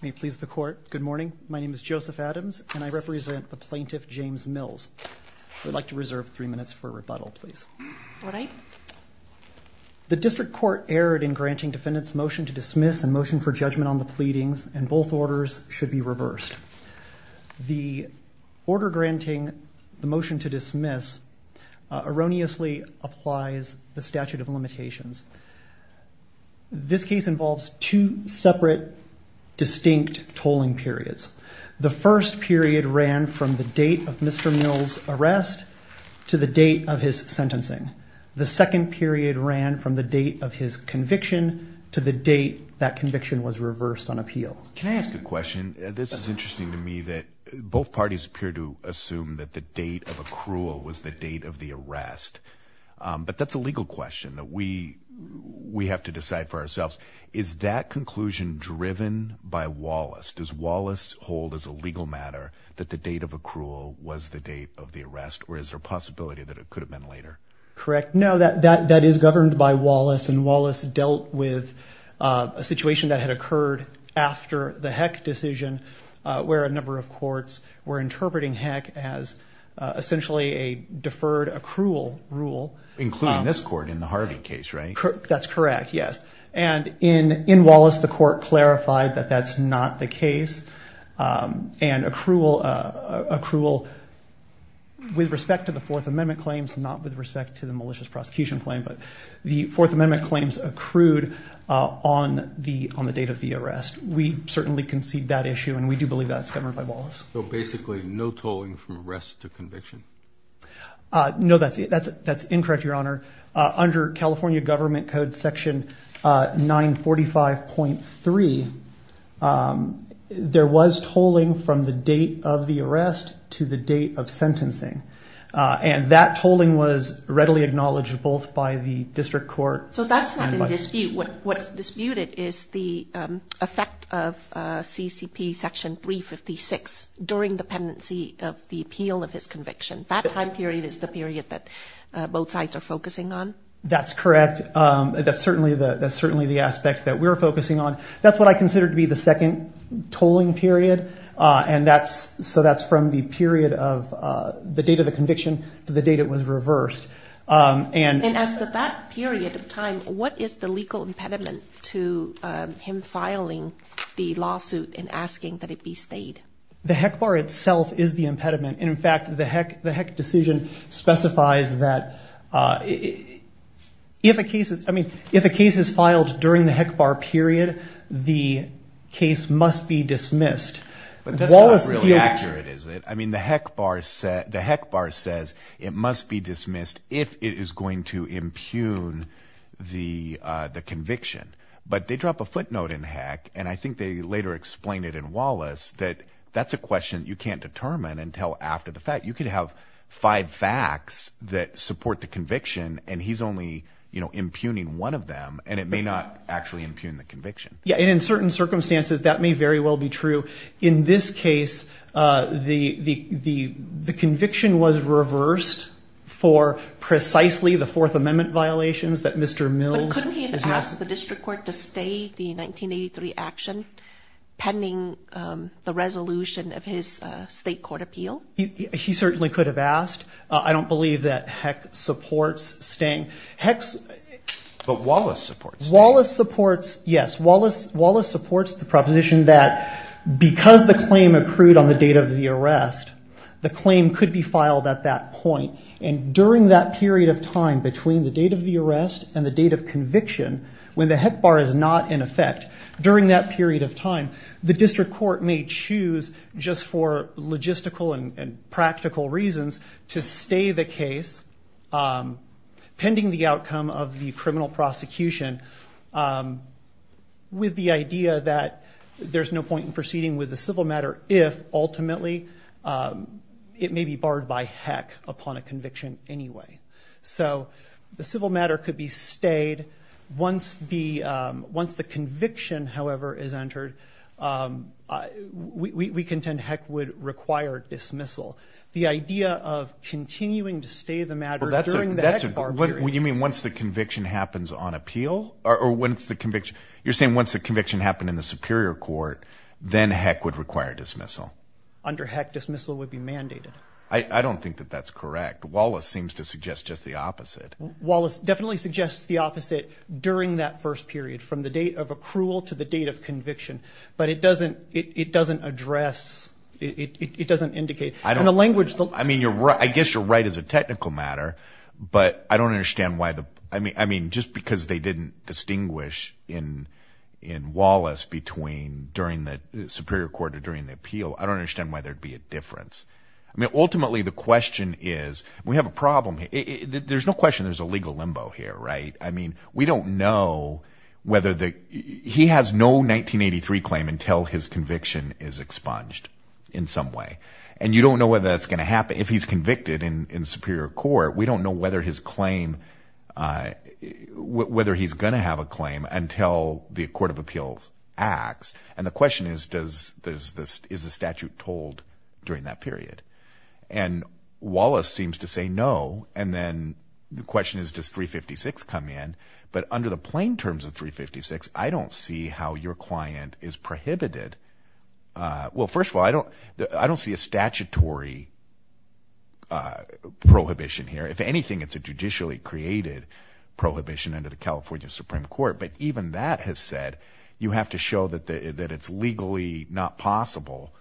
May it please the court, good morning, my name is Joseph Adams and I represent the plaintiff James Mills. I'd like to reserve three minutes for rebuttal please. The district court erred in granting defendants motion to dismiss and motion for judgment on the pleadings and both orders should be reversed. The order granting the motion to dismiss erroneously applies the statute of limitations. This case involves two separate distinct tolling periods. The first period ran from the date of Mr. Mills arrest to the date of his sentencing. The second period ran from the date of his conviction to the date that conviction was reversed on appeal. Can I ask a question? This is interesting to me that both parties appear to assume that the date of accrual was the date of the arrest but that's a legal question that we we have to decide for ourselves. Is that conclusion driven by Wallace? Does Wallace hold as a legal matter that the date of accrual was the date of the arrest or is there a possibility that it could have been later? Correct, no that that that is governed by Wallace and Wallace dealt with a situation that had occurred after the Heck decision where a number of essentially a deferred accrual rule. Including this court in the Harvey case right? That's correct yes and in in Wallace the court clarified that that's not the case and accrual accrual with respect to the Fourth Amendment claims not with respect to the malicious prosecution claim but the Fourth Amendment claims accrued on the on the date of the arrest. We certainly concede that issue and we do believe that's governed by Wallace. So basically no tolling from arrest to conviction? No that's it that's that's incorrect Your Honor. Under California Government Code section 945.3 there was tolling from the date of the arrest to the date of sentencing and that tolling was readily acknowledged both by the district court. So that's not a dispute what's disputed is the effect of CCP section 356 during the pendency of the appeal of his conviction that time period is the period that both sides are focusing on? That's correct that's certainly the that's certainly the aspect that we're focusing on that's what I consider to be the second tolling period and that's so that's from the period of the date of the conviction to the date it was reversed. And as that period of time what is the legal impediment to him filing the lawsuit and asking that it be stayed? The HEC bar itself is the impediment in fact the HEC the HEC decision specifies that if a case is I mean if a case is filed during the HEC bar period the case must be dismissed. I mean the HEC bar said the HEC bar says it must be dismissed if it is going to impugn the the conviction but they drop a footnote in HEC and I think they later explained it in Wallace that that's a question you can't determine until after the fact you could have five facts that support the conviction and he's only you know impugning one of them and it may not actually impugn the conviction. Yeah and in certain circumstances that may very well be true in this case the the the conviction was reversed for precisely the Fourth Amendment violations that Mr. Mills. Couldn't he have asked the district court to stay the 1983 action pending the resolution of his state court appeal? He certainly could have asked I don't believe that HEC supports staying HEC. But Wallace supports. Wallace supports yes Wallace Wallace supports the proposition that because the claim accrued on the date of the arrest the claim could be filed at that point and during that period of time between the date of the arrest and the date of conviction when the HEC bar is not in effect during that period of time the district court may choose just for logistical and practical reasons to stay the case pending the outcome of the criminal prosecution with the idea that there's no point in proceeding with the civil matter if ultimately it may be barred by HEC upon a conviction anyway. So the civil matter could be stayed once the once the conviction however is dismissal the idea of continuing to stay the matter that's what you mean once the conviction happens on appeal or when it's the conviction you're saying once the conviction happened in the Superior Court then HEC would require dismissal. Under HEC dismissal would be mandated. I don't think that that's correct. Wallace seems to suggest just the opposite. Wallace definitely suggests the opposite during that first period from the date of accrual to the date of conviction but it doesn't address it doesn't indicate I don't know language though I mean you're right I guess you're right as a technical matter but I don't understand why the I mean I mean just because they didn't distinguish in in Wallace between during the Superior Court or during the appeal I don't understand why there'd be a difference I mean ultimately the question is we have a problem there's no question there's a limbo here right I mean we don't know whether the he has no 1983 claim until his conviction is expunged in some way and you don't know whether that's going to happen if he's convicted in in Superior Court we don't know whether his claim whether he's gonna have a claim until the Court of Appeals acts and the question is does this is the statute told during that period and Wallace to say no and then the question is does 356 come in but under the plain terms of 356 I don't see how your client is prohibited well first of all I don't I don't see a statutory prohibition here if anything it's a judicially created prohibition under the California Supreme Court but even that has said you have to show that the that it's legally not possible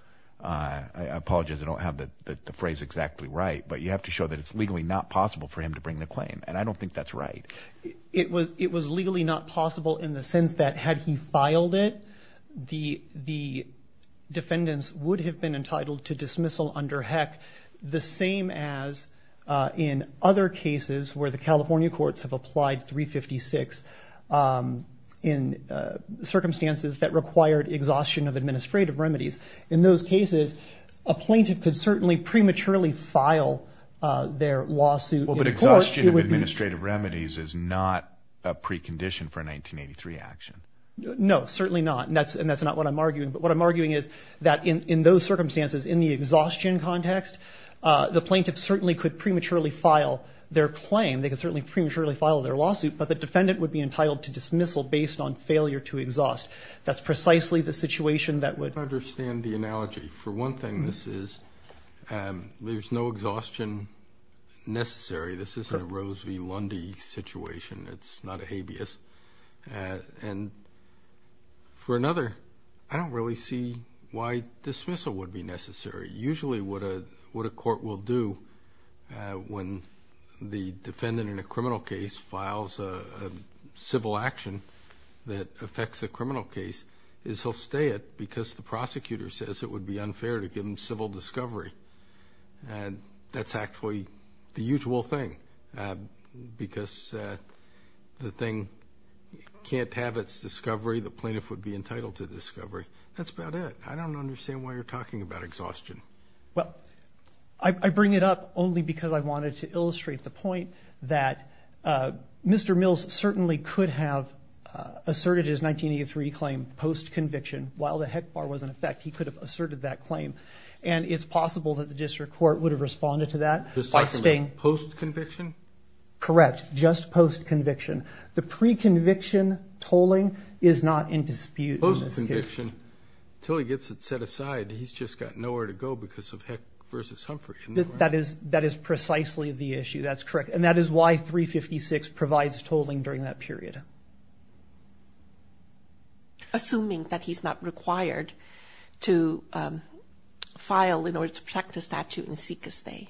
I apologize I don't have the phrase exactly right but you have to show that it's legally not possible for him to bring the claim and I don't think that's right it was it was legally not possible in the sense that had he filed it the the defendants would have been entitled to dismissal under heck the same as in other cases where the California courts have applied 356 in circumstances that required exhaustion of prematurely file their lawsuit administrative remedies is not a precondition for a 1983 action no certainly not and that's and that's not what I'm arguing but what I'm arguing is that in those circumstances in the exhaustion context the plaintiff certainly could prematurely file their claim they can certainly prematurely file their lawsuit but the defendant would be entitled to dismissal based on failure to exhaust that's precisely the situation that would understand the analogy for one thing this is and there's no exhaustion necessary this isn't a Rose v. Lundy situation it's not a habeas and for another I don't really see why dismissal would be necessary usually what a what a court will do when the defendant in a criminal case files a civil action that affects a criminal case is he'll stay it because the prosecutor says it would be unfair to give him civil discovery and that's actually the usual thing because the thing can't have its discovery the plaintiff would be entitled to discovery that's about it I don't understand why you're talking about exhaustion well I bring it up only because I wanted to illustrate the that Mr. Mills certainly could have asserted his 1983 claim post conviction while the heck bar was in effect he could have asserted that claim and it's possible that the district court would have responded to that just like staying post conviction correct just post conviction the pre-conviction tolling is not in dispute motion till he gets it set aside he's just got nowhere to go because of heck versus Humphrey that is that is precisely the issue that's correct and that is why 356 provides tolling during that period assuming that he's not required to file in order to protect a statute and seek a stay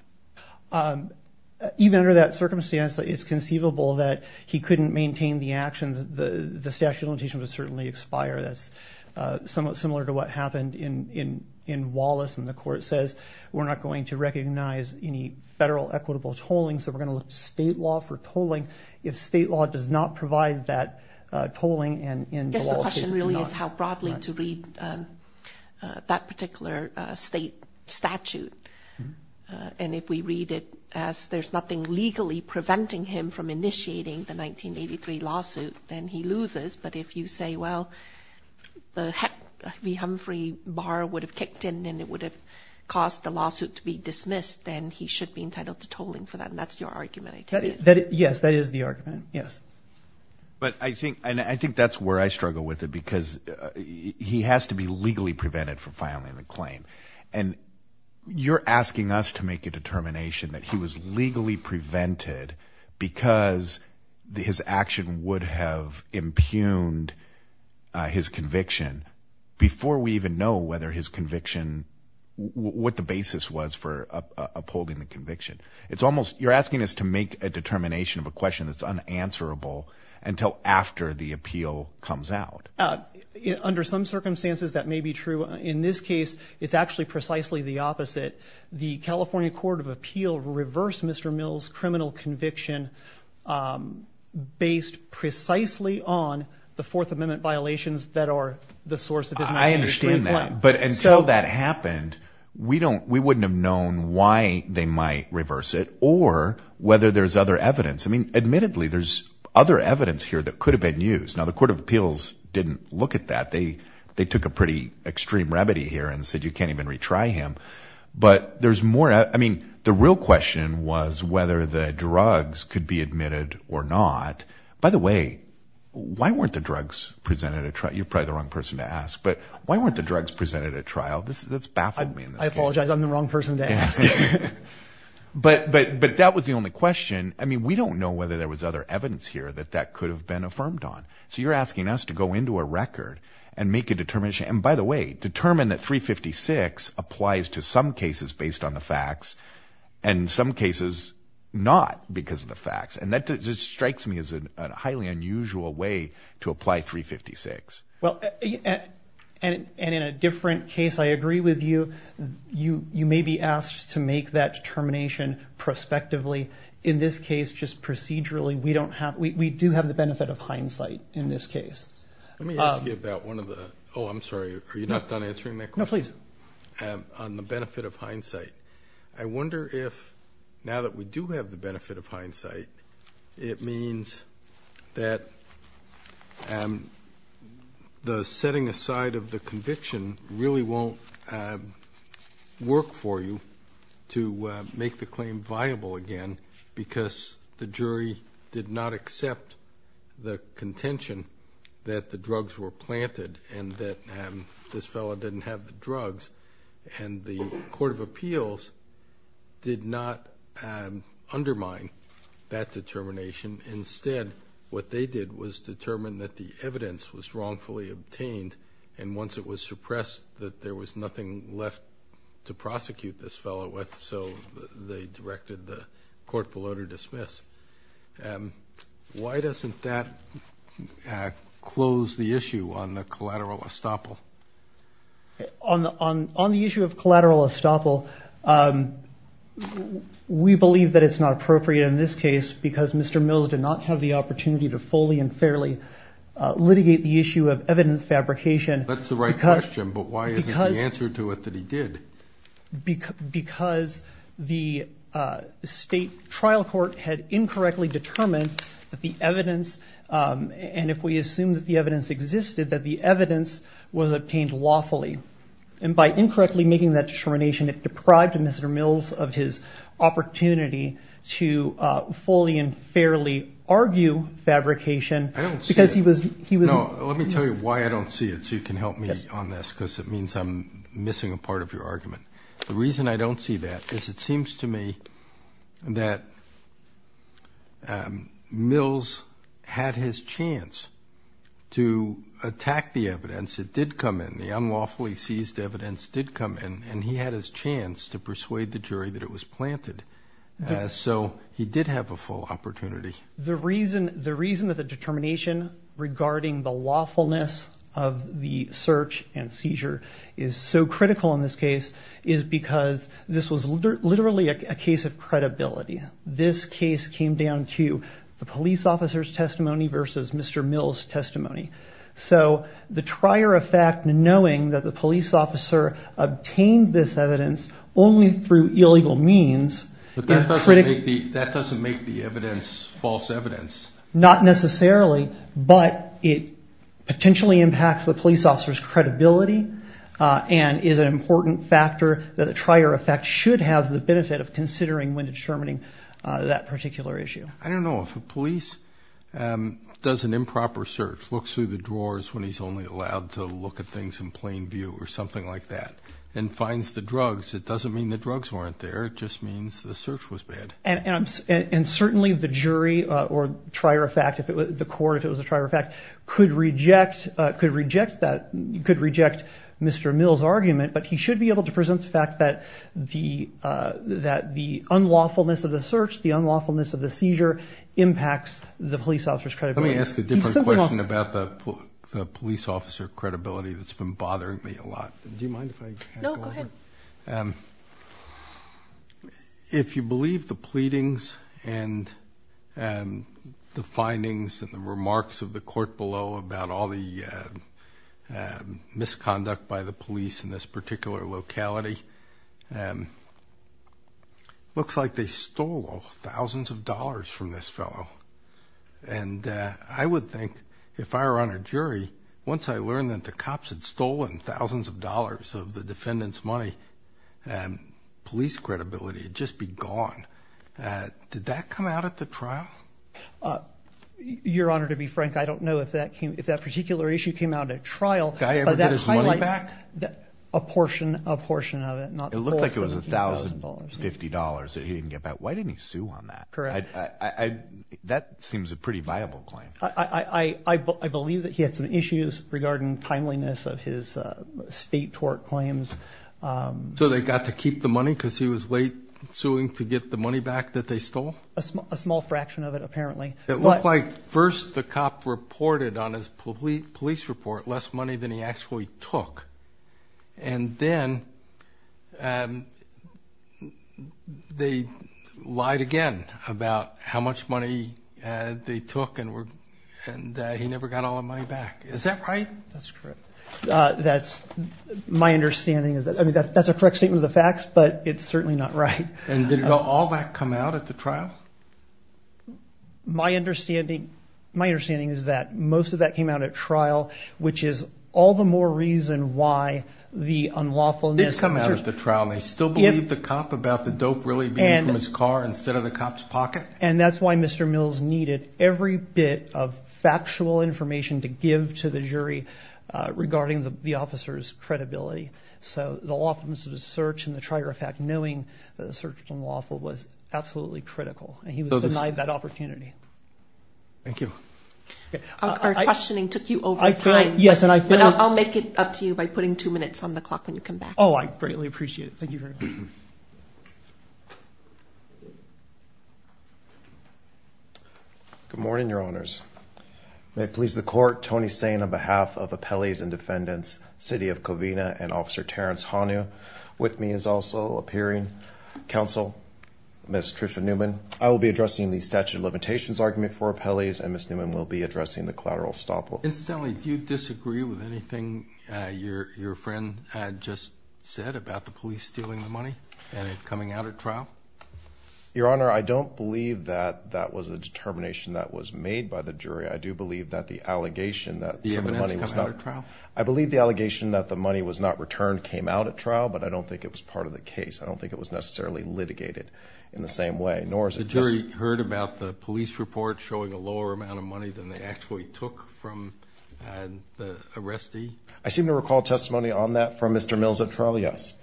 even under that circumstance that it's conceivable that he couldn't maintain the actions the the statute limitation was certainly expire that's similar to what happened in in in Wallace and the court says we're not going to recognize any federal equitable tolling so we're going to look state law for tolling if state law does not provide that tolling and really is how broadly to read that particular state statute and if we read it as there's nothing legally preventing him from initiating the 1983 lawsuit then he loses but if you say well the heck we Humphrey bar would have kicked in and it would have caused the lawsuit to be dismissed then he should be entitled to tolling for that and that's your argument I tell you that it yes that is the argument yes but I think and I think that's where I struggle with it because he has to be legally prevented for filing the claim and you're asking us to make a determination that he was legally prevented because his action would have impugned his conviction before we even know whether his conviction what the basis was for upholding the conviction it's almost you're asking us to make a determination of a question that's unanswerable until after the appeal comes out under some circumstances that may be true in this case it's actually precisely the opposite the California Court of Appeal reversed mr. Mills criminal conviction based precisely on the Fourth Amendment violations that are the source of it I understand that but until that happened we don't we wouldn't have known why they might reverse it or whether there's other evidence I mean admittedly there's other evidence here that could have been used now the Court of Appeals didn't look at that they they took a pretty extreme remedy here and said you can't even retry him but there's more I mean the real question was whether the drugs could be admitted or not by the way why weren't the drugs presented a trial you're probably the wrong person to ask but why weren't the drugs presented at trial this is that's bad I apologize I'm the wrong person to ask but but but that was the only question I mean we don't know whether there was other evidence here that that could have been affirmed on so you're asking us to go into a record and make a determination and by the way determine that 356 applies to some cases based on the facts and in some cases not because of the facts and that just strikes me as a highly unusual way to apply 356 well and in a different case I agree with you you you may be asked to make that determination prospectively in this case just procedurally we don't have we do have the benefit of hindsight in this case let me ask you about one of the oh I'm sorry are you not done answering that no please have on the benefit of hindsight I wonder if now that we do have the benefit of hindsight it means that and the setting aside of the conviction really won't work for you to make the claim viable again because the jury did not accept the contention that the drugs were planted and that this fella didn't have the drugs and the Court of Appeals did not undermine that determination instead what they did was determine that the evidence was wrongfully obtained and once it was suppressed that there was nothing left to prosecute this fellow with so they directed the court below to dismiss why doesn't that close the issue on the collateral estoppel on the on on the issue of collateral estoppel we believe that it's not appropriate in this case because mr. Mills did not have the opportunity to fully and fairly litigate the issue of evidence fabrication that's the right question but why is the answer to it that he did because because the state trial court had incorrectly determined that the evidence and if we assume that the evidence existed that the evidence was obtained lawfully and by incorrectly making that determination it deprived mr. Mills of his opportunity to fully and fairly argue fabrication because he was he was let me tell you why I don't see it so you can help me on this because it means I'm missing a part of your argument the reason I don't see that is it seems to me that Mills had his chance to attack the evidence it did come in the unlawfully seized evidence did come in and he had his chance to persuade the jury that it was planted so he did have a full opportunity the reason the reason that the determination regarding the lawfulness of the search and seizure is so critical in this case is because this was literally a case of credibility this case came down to the police officers testimony versus mr. Mills testimony so the trier of fact knowing that the police officer obtained this evidence only through illegal means that doesn't make the evidence false evidence not necessarily but it potentially impacts the police officers credibility and is an important factor that a trier effect should have the benefit of considering when determining that particular issue I don't know if a police does an improper search looks through the drawers when he's only allowed to look at things in plain view or something like that and finds the drugs it doesn't mean the drugs weren't there it just means the search was bad and amps and certainly the jury or trier effect if it was the court it was a trier effect could reject could reject that you could reject mr. Mills argument but he should be able to present the fact that the that the unlawfulness of the search the unlawfulness of the seizure impacts the police officers credit let me ask a different question about the police officer credibility that's been bothering me a lot do you mind if I know if you believe the pleadings and and the findings and the remarks of the court below about all the misconduct by the police in this particular locality and looks like they stole thousands of dollars from this fellow and I would think if I were on a jury once I learned that the cops had stolen thousands of dollars of the defendants money and police credibility just be gone did that come out at the trial your honor to be frank I don't know if that came if that particular issue came out at trial that highlights that a portion a portion of it not it looked like it was $1,050 that he didn't about why didn't he sue on that correct I that seems a pretty viable claim III believe that he had some issues regarding timeliness of his state tort claims so they got to keep the money because he was late suing to get the money back that they stole a small fraction of it apparently it looked like first the cop reported on his police police report less money than he actually took and then they lied again about how much money they took and were and he never got all the money back is that right that's correct that's my understanding is that I mean that that's a correct statement of the facts but it's certainly not right and did it all that come out at the trial my understanding my understanding is that most of that came out at trial which is all the more reason why the lawfulness come out at the trial they still believe the cop about the dope really and his car instead of the cops pocket and that's why mr. Mills needed every bit of factual information to give to the jury regarding the officers credibility so the lawfulness of the search and the trier effect knowing that the search was unlawful was absolutely critical and he was denied that opportunity thank you our questioning took you over yes and I think I'll make it up to you by oh I greatly appreciate it thank you very much good morning your honors may it please the court Tony saying on behalf of appellees and defendants city of Covina and officer Terrence Honu with me is also appearing counsel mr. Newman I will be addressing the statute of limitations argument for appellees and miss Newman will be addressing the collateral stop instantly do you disagree with anything your friend had just said about the police stealing the money and it coming out at trial your honor I don't believe that that was a determination that was made by the jury I do believe that the allegation that the evidence I believe the allegation that the money was not returned came out at trial but I don't think it was part of the case I don't think it was necessarily litigated in the same way nor is it jury heard about the police report showing a lower amount of money than they actually took from the arrestee I seem to recall testimony on that from mr. Mills at trial yes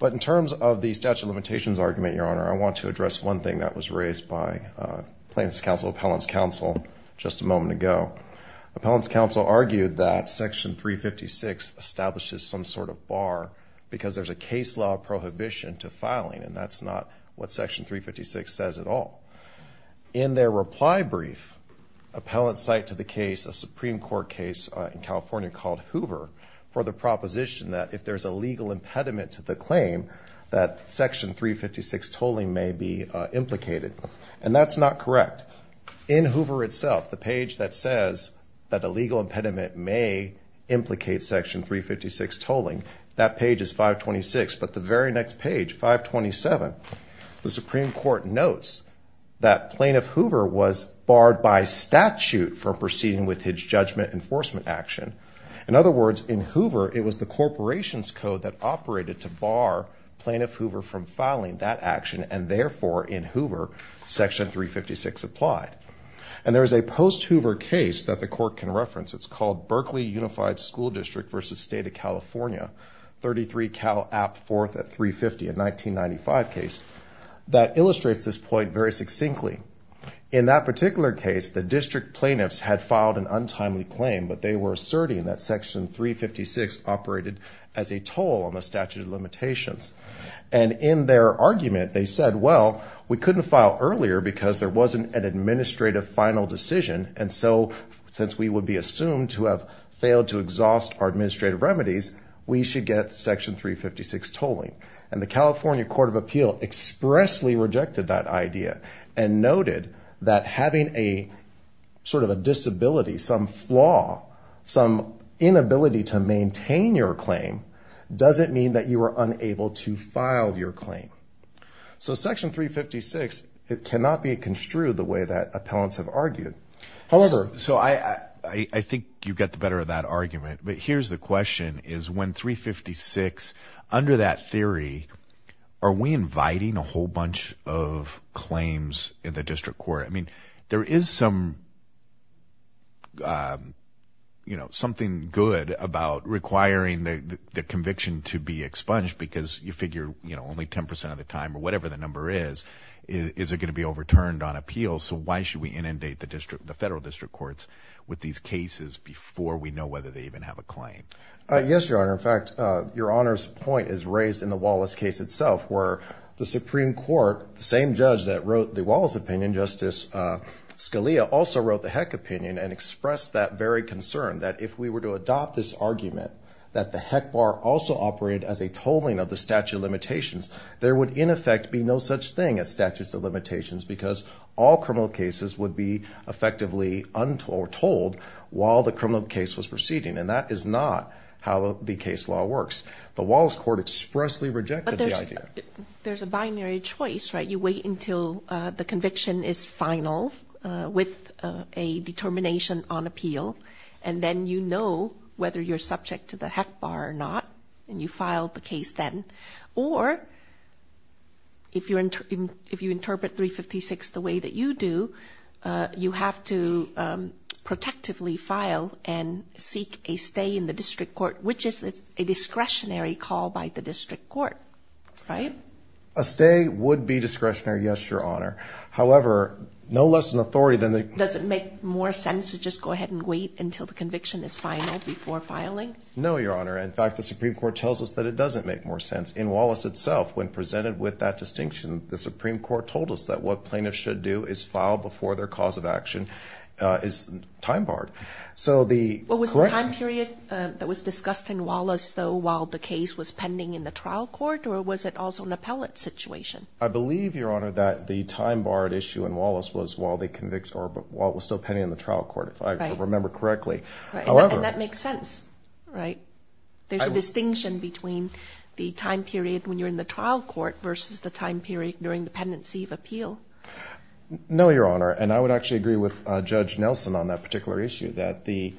but in terms of the statute of limitations argument your honor I want to address one thing that was raised by plaintiffs counsel appellants counsel just a moment ago appellants counsel argued that section 356 establishes some sort of bar because there's a case law prohibition to filing and that's not what section 356 says at all in their reply brief appellant cite to the case a Supreme Court case in California called Hoover for the proposition that if there's a legal impediment to the claim that section 356 tolling may be implicated and that's not correct in Hoover itself the page that says that a legal impediment may implicate section 356 tolling that page is 526 but the very next page 527 the Supreme Court notes that plaintiff Hoover was barred by statute for proceeding with his judgment enforcement action in other words in Hoover it was the corporation's code that operated to bar plaintiff Hoover from filing that action and therefore in Hoover section 356 applied and there is a post Hoover case that the court can reference it's called Berkeley Unified School District versus State of California 33 Cal app fourth at 350 in 1995 case that illustrates this point very succinctly in that particular case the district plaintiffs had filed an untimely claim but they were asserting that section 356 operated as a toll on the statute of limitations and in their argument they said well we couldn't file earlier because there wasn't an administrative final decision and so since we would be assumed to have failed to exhaust our administrative remedies we should get section 356 tolling and the California Court of Appeal expressly rejected that idea and noted that having a sort of a disability some flaw some inability to maintain your claim doesn't mean that you were unable to file your claim so section 356 it cannot be construed the way that appellants have argued however so I I think you get the better of that argument but here's the question is when 356 under that theory are we inviting a whole bunch of claims in the district court I mean there is some you know something good about requiring the the conviction to be expunged because you figure you know only 10 percent of the time or whatever the number is is it going to be overturned on appeal so why should we inundate the district the federal district courts with these cases before we know whether they even have a claim yes your honor in fact your honor's point is raised in the Wallace case itself where the supreme court the same judge that wrote the Wallace opinion justice Scalia also wrote the heck opinion and expressed that very concern that if we were to adopt this argument that the heck bar also operated as a tolling of the statute of limitations there would in effect be no such thing as statutes of limitations because all criminal cases would be effectively untold told while the criminal case was proceeding and that is not how the case law works the Wallace court expressly rejected the idea there's a binary choice right you wait until the conviction is final with a determination on appeal and then you know whether you're subject to the heck bar or not and you filed the case then or if you're in if you interpret 356 the way that you do you have to protectively file and seek a stay in the district court which is a discretionary call by the district court right a stay would be discretionary yes your honor however no less an authority than the does it make more sense to just go ahead and wait until the conviction is final before filing no your honor in fact the supreme court tells us that it doesn't make more sense in Wallace itself when presented with that distinction the supreme court told us that what plaintiffs should do is file before their cause of action uh is time barred so the what was the time period that was discussed in Wallace though while the case was pending in the trial court or was it also an appellate situation i believe your honor that the time barred issue in Wallace was while they convict or but while it was still pending in the trial court if i remember correctly however that makes sense right there's a distinction between the time period when you're in the trial court versus the time period during the pendency of appeal no your honor and i would actually agree with uh judge nelson on that particular issue that the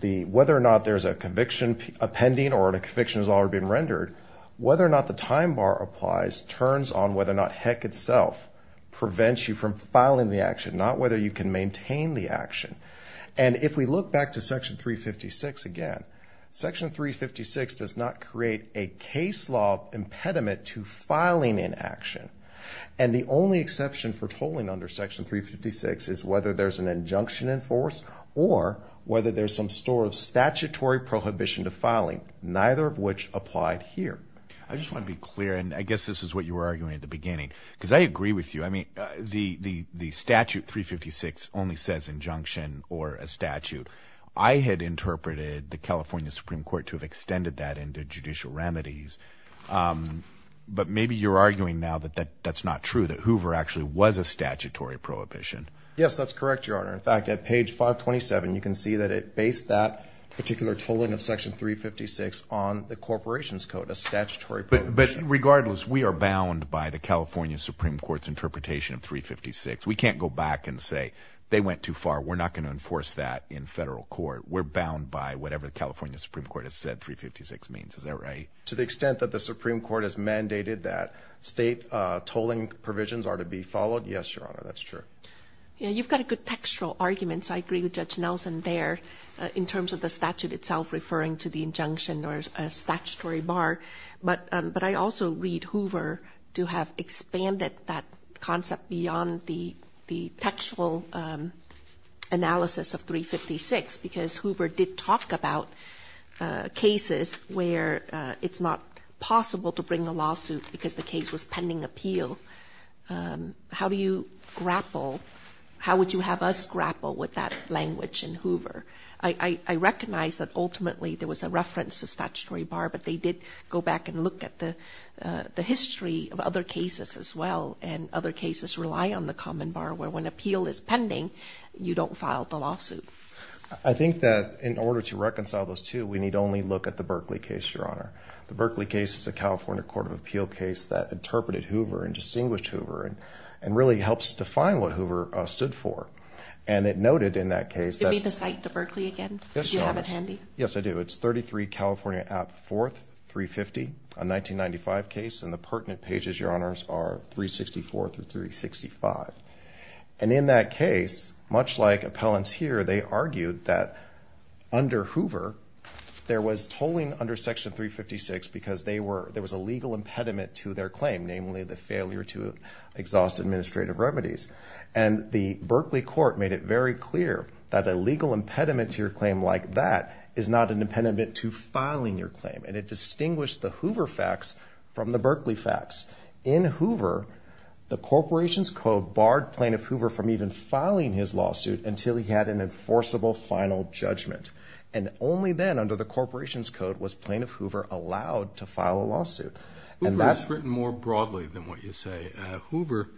the whether or not there's a conviction appending or the conviction has already been rendered whether or not the time bar applies turns on whether or not heck itself prevents you from the action and if we look back to section 356 again section 356 does not create a case law impediment to filing in action and the only exception for tolling under section 356 is whether there's an injunction in force or whether there's some store of statutory prohibition to filing neither of which applied here i just want to be clear and i guess this is what you were only says injunction or a statute i had interpreted the california supreme court to have extended that into judicial remedies um but maybe you're arguing now that that that's not true that hoover actually was a statutory prohibition yes that's correct your honor in fact at page 527 you can see that it based that particular tolling of section 356 on the corporation's code a statutory but regardless we are bound by the california supreme court's went too far we're not going to enforce that in federal court we're bound by whatever the california supreme court has said 356 means is that right to the extent that the supreme court has mandated that state uh tolling provisions are to be followed yes your honor that's true yeah you've got a good textual argument so i agree with judge nelson there in terms of the statute itself referring to the injunction or a statutory bar but um but i also read hoover to have expanded that concept beyond the the textual um analysis of 356 because hoover did talk about uh cases where uh it's not possible to bring a lawsuit because the case was pending appeal um how do you grapple how would you have us grapple with that language in hoover i i recognize that ultimately there was a reference to statutory bar but they did go back and look at the uh the history of other cases as well and other cases rely on the common bar where when appeal is pending you don't file the lawsuit i think that in order to reconcile those two we need only look at the berkeley case your honor the berkeley case is a california court of appeal case that interpreted hoover and distinguished hoover and and really helps define what hoover uh stood for and it noted in that case give me the site to berkeley again yes i do it's 33 california app fourth 350 a 1995 case and the pertinent pages your honors are 364 through 365 and in that case much like appellants here they argued that under hoover there was tolling under section 356 because they were there was a legal impediment to their claim namely the failure to exhaust administrative remedies and the berkeley court made it very clear that a legal impediment to your claim like that is not an impediment to filing your claim and it distinguished the hoover facts from the berkeley facts in hoover the corporation's code barred plaintiff hoover from even filing his lawsuit until he had an enforceable final judgment and only then under the corporation's code was plaintiff hoover allowed to file a lawsuit and that's written more broadly than what you say hoover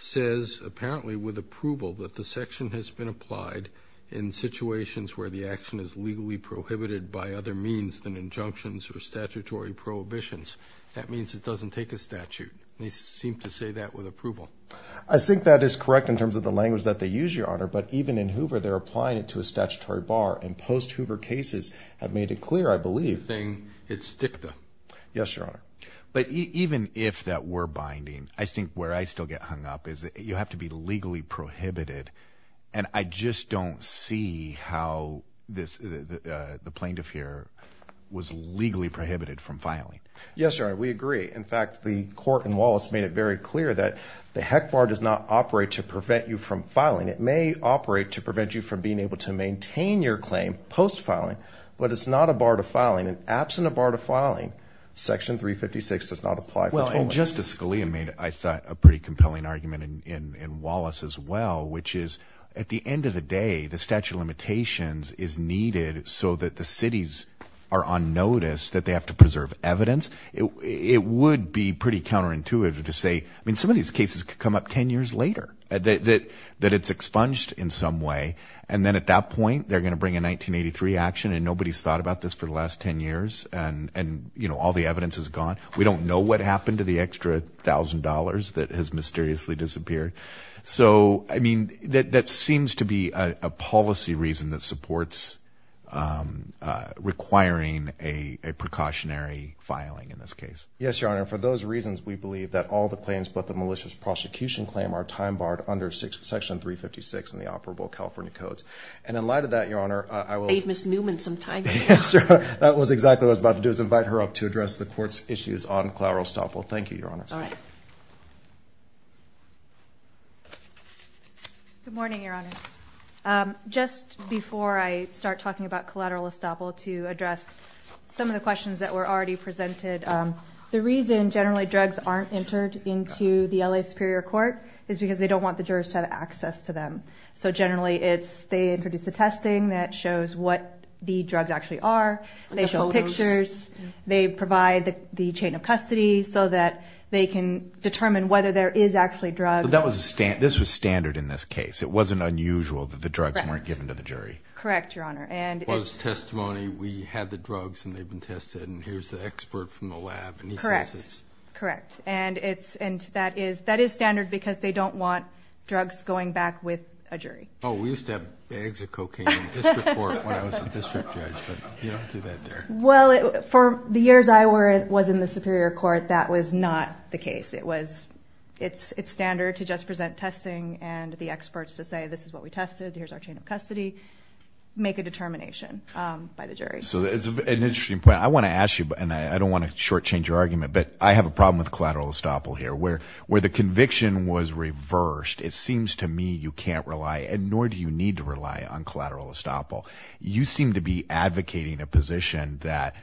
says apparently with approval that the section has applied in situations where the action is legally prohibited by other means than injunctions or statutory prohibitions that means it doesn't take a statute they seem to say that with approval i think that is correct in terms of the language that they use your honor but even in hoover they're applying it to a statutory bar and post hoover cases have made it clear i believe thing it's dicta yes your honor but even if that were binding i think where i still get hung up is that you have to be legally prohibited and i just don't see how this the plaintiff here was legally prohibited from filing yes your honor we agree in fact the court in wallace made it very clear that the heck bar does not operate to prevent you from filing it may operate to prevent you from being able to maintain your claim post filing but it's not a bar to filing and absent a bar to filing section 356 does not apply well and justice scalia made i thought a pretty compelling argument in in wallace as well which is at the end of the day the statute of limitations is needed so that the cities are on notice that they have to preserve evidence it it would be pretty counterintuitive to say i mean some of these cases could come up 10 years later that that it's expunged in some way and then at that point they're going to bring a 1983 action and nobody's thought about this for the last 10 years and and you know all the evidence is gone we don't know what happened to the extra thousand dollars that has mysteriously disappeared so i mean that that seems to be a policy reason that supports um uh requiring a a precautionary filing in this case yes your honor for those reasons we believe that all the claims but the malicious prosecution claim are time barred under section 356 in the operable california codes and in light of that your honor i will leave miss newman some that was exactly what i was about to do is invite her up to address the court's issues on collateral estoppel thank you your honors all right good morning your honors um just before i start talking about collateral estoppel to address some of the questions that were already presented um the reason generally drugs aren't entered into the la superior court is because they don't want the jurors to have access to them so generally it's they introduce the testing that shows what the drugs actually are they show pictures they provide the chain of custody so that they can determine whether there is actually drugs that was a stand this was standard in this case it wasn't unusual that the drugs weren't given to the jury correct your honor and was testimony we had the drugs and they've been tested and here's the expert from the lab correct correct and it's and that is that is standard because they don't want drugs going back with a jury oh we used to have bags of cocaine district court when i was a district judge but you don't do that there well it for the years i was in the superior court that was not the case it was it's it's standard to just present testing and the experts to say this is what we tested here's our chain of custody make a determination um by the jury so it's an interesting point i want to ask you and i don't want to shortchange your argument but i have a problem with collateral estoppel here where where the conviction was reversed it seems to me you can't rely and nor do you need to rely on collateral estoppel you seem to be advocating a position that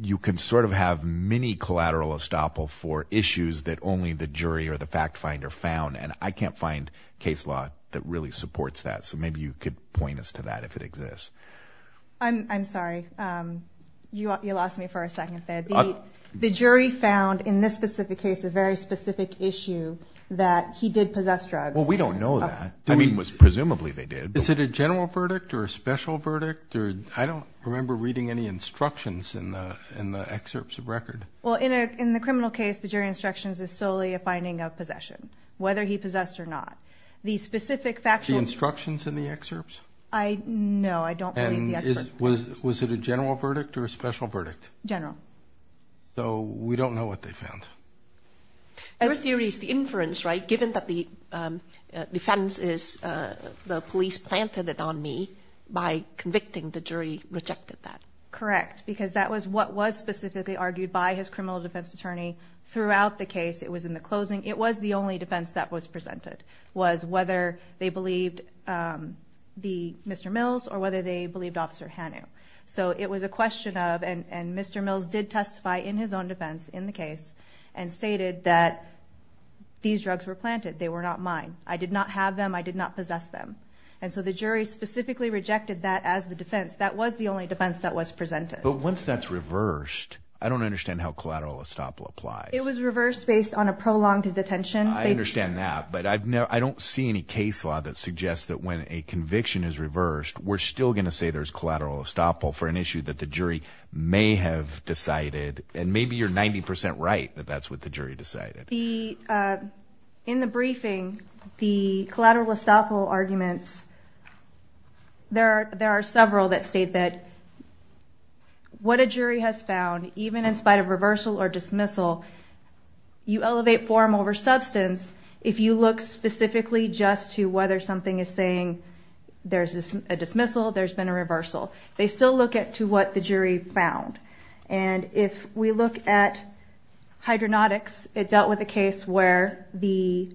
you can sort of have many collateral estoppel for issues that only the jury or the fact finder found and i can't find case law that really supports that so maybe you could point us to that if it exists i'm i'm sorry um you lost me for a second there the the jury found in this specific case a very specific issue that he did possess drugs well we don't know that i mean was presumably they did is it a general verdict or a special verdict or i don't remember reading any instructions in the in the excerpts of record well in a in the criminal case the jury instructions is solely a finding of possession whether he possessed or not the i know i don't believe the expert was was it a general verdict or a special verdict general so we don't know what they found your theory is the inference right given that the defense is uh the police planted it on me by convicting the jury rejected that correct because that was what was specifically argued by his criminal defense attorney throughout the case it was in the closing it was the only defense that was presented was whether they believed mr mills or whether they believed officer hanu so it was a question of and and mr mills did testify in his own defense in the case and stated that these drugs were planted they were not mine i did not have them i did not possess them and so the jury specifically rejected that as the defense that was the only defense that was presented but once that's reversed i don't understand how collateral estoppel applies it was reversed based on a prolonged detention i understand that but i've never i don't see any case law that suggests that when a conviction is reversed we're still going to say there's collateral estoppel for an issue that the jury may have decided and maybe you're 90 right that that's what the jury decided the uh in the briefing the collateral estoppel arguments there there are several that state that what a jury has found even in spite of reversal or dismissal you elevate form over substance if you look specifically just to whether something is saying there's a dismissal there's been a reversal they still look at to what the jury found and if we look at hydronautics it dealt with a case where the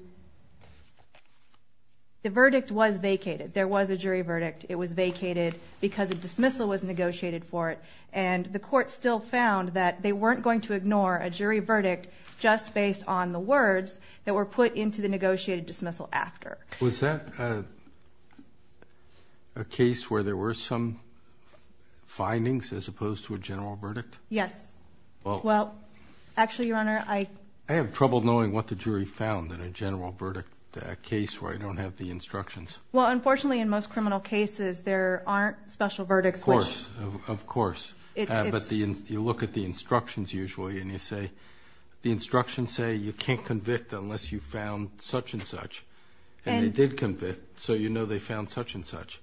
the verdict was vacated there was a jury verdict it was vacated because a dismissal was negotiated for it and the court still found that they weren't going to ignore a jury verdict just based on the words that were put into the negotiated dismissal after was that uh a case where there were some findings as opposed to a general verdict yes well well actually your honor i i have trouble knowing what the jury found in a general verdict case where i don't have the instructions well unfortunately in most criminal cases there aren't special verdicts of course of course but the you look at the instructions usually and you say the instructions say you can't convict unless you found such and such and they did convict so you know they found such and such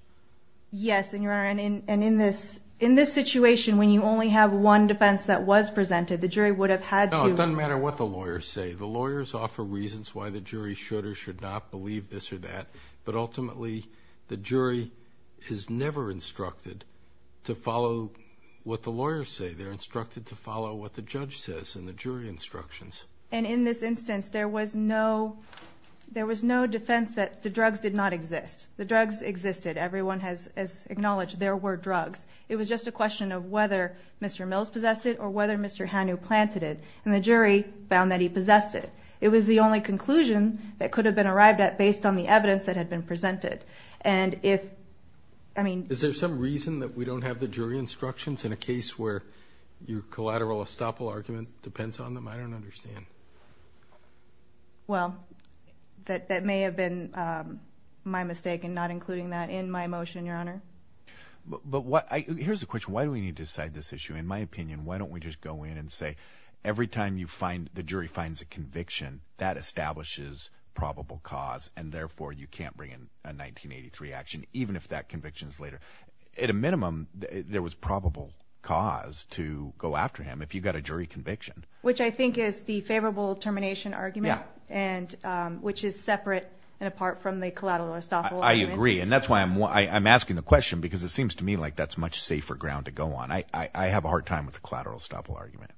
yes and your honor and in and in this in this situation when you only have one defense that was presented the jury would have had to no it doesn't matter what the lawyers say the lawyers offer reasons why the jury should not believe this or that but ultimately the jury is never instructed to follow what the lawyers say they're instructed to follow what the judge says and the jury instructions and in this instance there was no there was no defense that the drugs did not exist the drugs existed everyone has acknowledged there were drugs it was just a question of whether mr mills possessed it or whether mr hanu planted it and the jury found that he possessed it it was the only conclusion that could have been arrived at based on the evidence that had been presented and if i mean is there some reason that we don't have the jury instructions in a case where your collateral estoppel argument depends on them i don't understand well that that may have been my mistake in not including that in my motion your honor but what i here's the question why do we need to decide this issue in my opinion why don't we just go in and say every time you find the jury finds a conviction that establishes probable cause and therefore you can't bring in a 1983 action even if that conviction is later at a minimum there was probable cause to go after him if you got a jury conviction which i think is the favorable termination argument and um which is separate and apart from the collateral estoppel i agree and that's why i'm why i'm asking the question because it seems to me like that's much safer ground to go on i i have a hard time with the collateral estoppel argument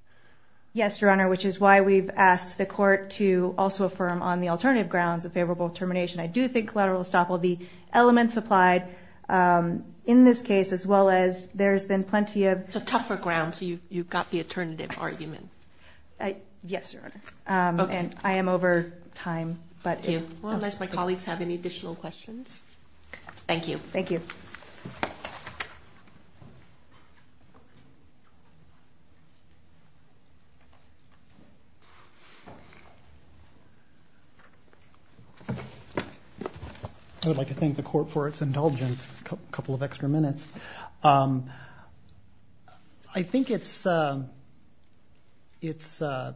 yes your honor which is why we've asked the court to also affirm on the alternative grounds of favorable termination i do think collateral estoppel the elements applied um in this case as well as there's been plenty of it's a tougher ground so you you've got the alternative argument i yes your honor um and i am over time but unless my colleagues have any additional questions thank you thank you i would like to thank the court for its indulgence a couple of extra minutes um i think it's um it's uh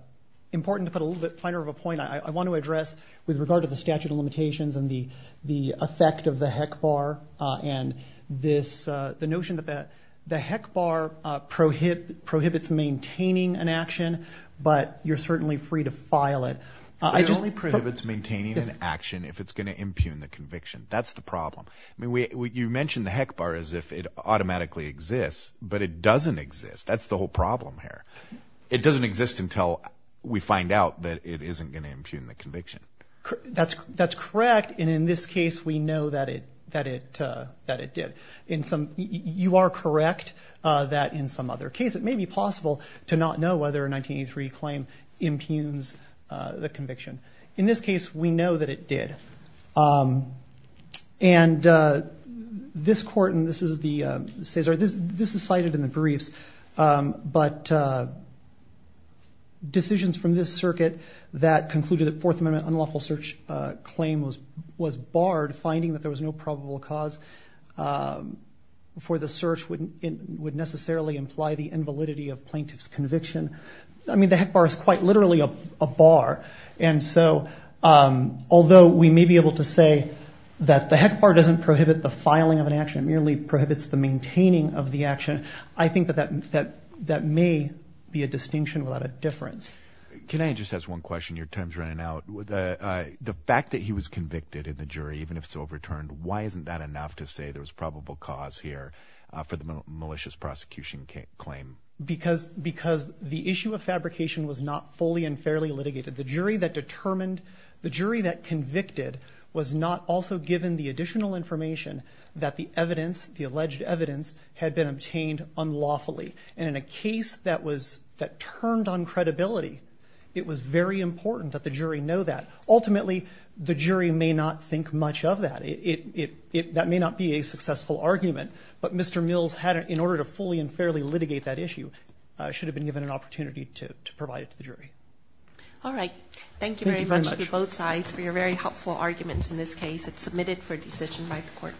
important to put a little bit finer of a point i i want to address with regard to the statute of limitations and the the effect of the heck bar uh and this uh the notion that that the heck bar uh prohibit prohibits maintaining an action but you're certainly free to file it i just only prohibits maintaining an action if it's going to impugn the conviction that's the problem i mean we you mentioned the heck bar as if it automatically exists but it doesn't exist that's the whole problem here it doesn't exist until we find out that it isn't going to impugn the conviction that's that's correct and in this case we know that it that it uh that it did in some you are correct uh that in some other case it may be possible to not know whether a 1983 claim impugns uh the conviction in this case we know that it did um and uh this court and this is the uh cesar this this is cited in the briefs um but uh from this circuit that concluded that fourth amendment unlawful search uh claim was was barred finding that there was no probable cause um before the search wouldn't it would necessarily imply the invalidity of plaintiff's conviction i mean the heck bar is quite literally a bar and so um although we may be able to say that the heck bar doesn't prohibit the filing of an action it merely prohibits the maintaining of the action i think that that that may be a distinction without a can i just ask one question your time's running out with uh uh the fact that he was convicted in the jury even if so overturned why isn't that enough to say there was probable cause here uh for the malicious prosecution claim because because the issue of fabrication was not fully and fairly litigated the jury that determined the jury that convicted was not also given the additional information that the evidence the alleged evidence had been obtained unlawfully and in a case that was that turned on credibility it was very important that the jury know that ultimately the jury may not think much of that it it it that may not be a successful argument but mr mills had in order to fully and fairly litigate that issue uh should have been given an opportunity to to provide it to the jury all right thank you very much for both sides for your very helpful arguments in this case it's submitted for decision by the court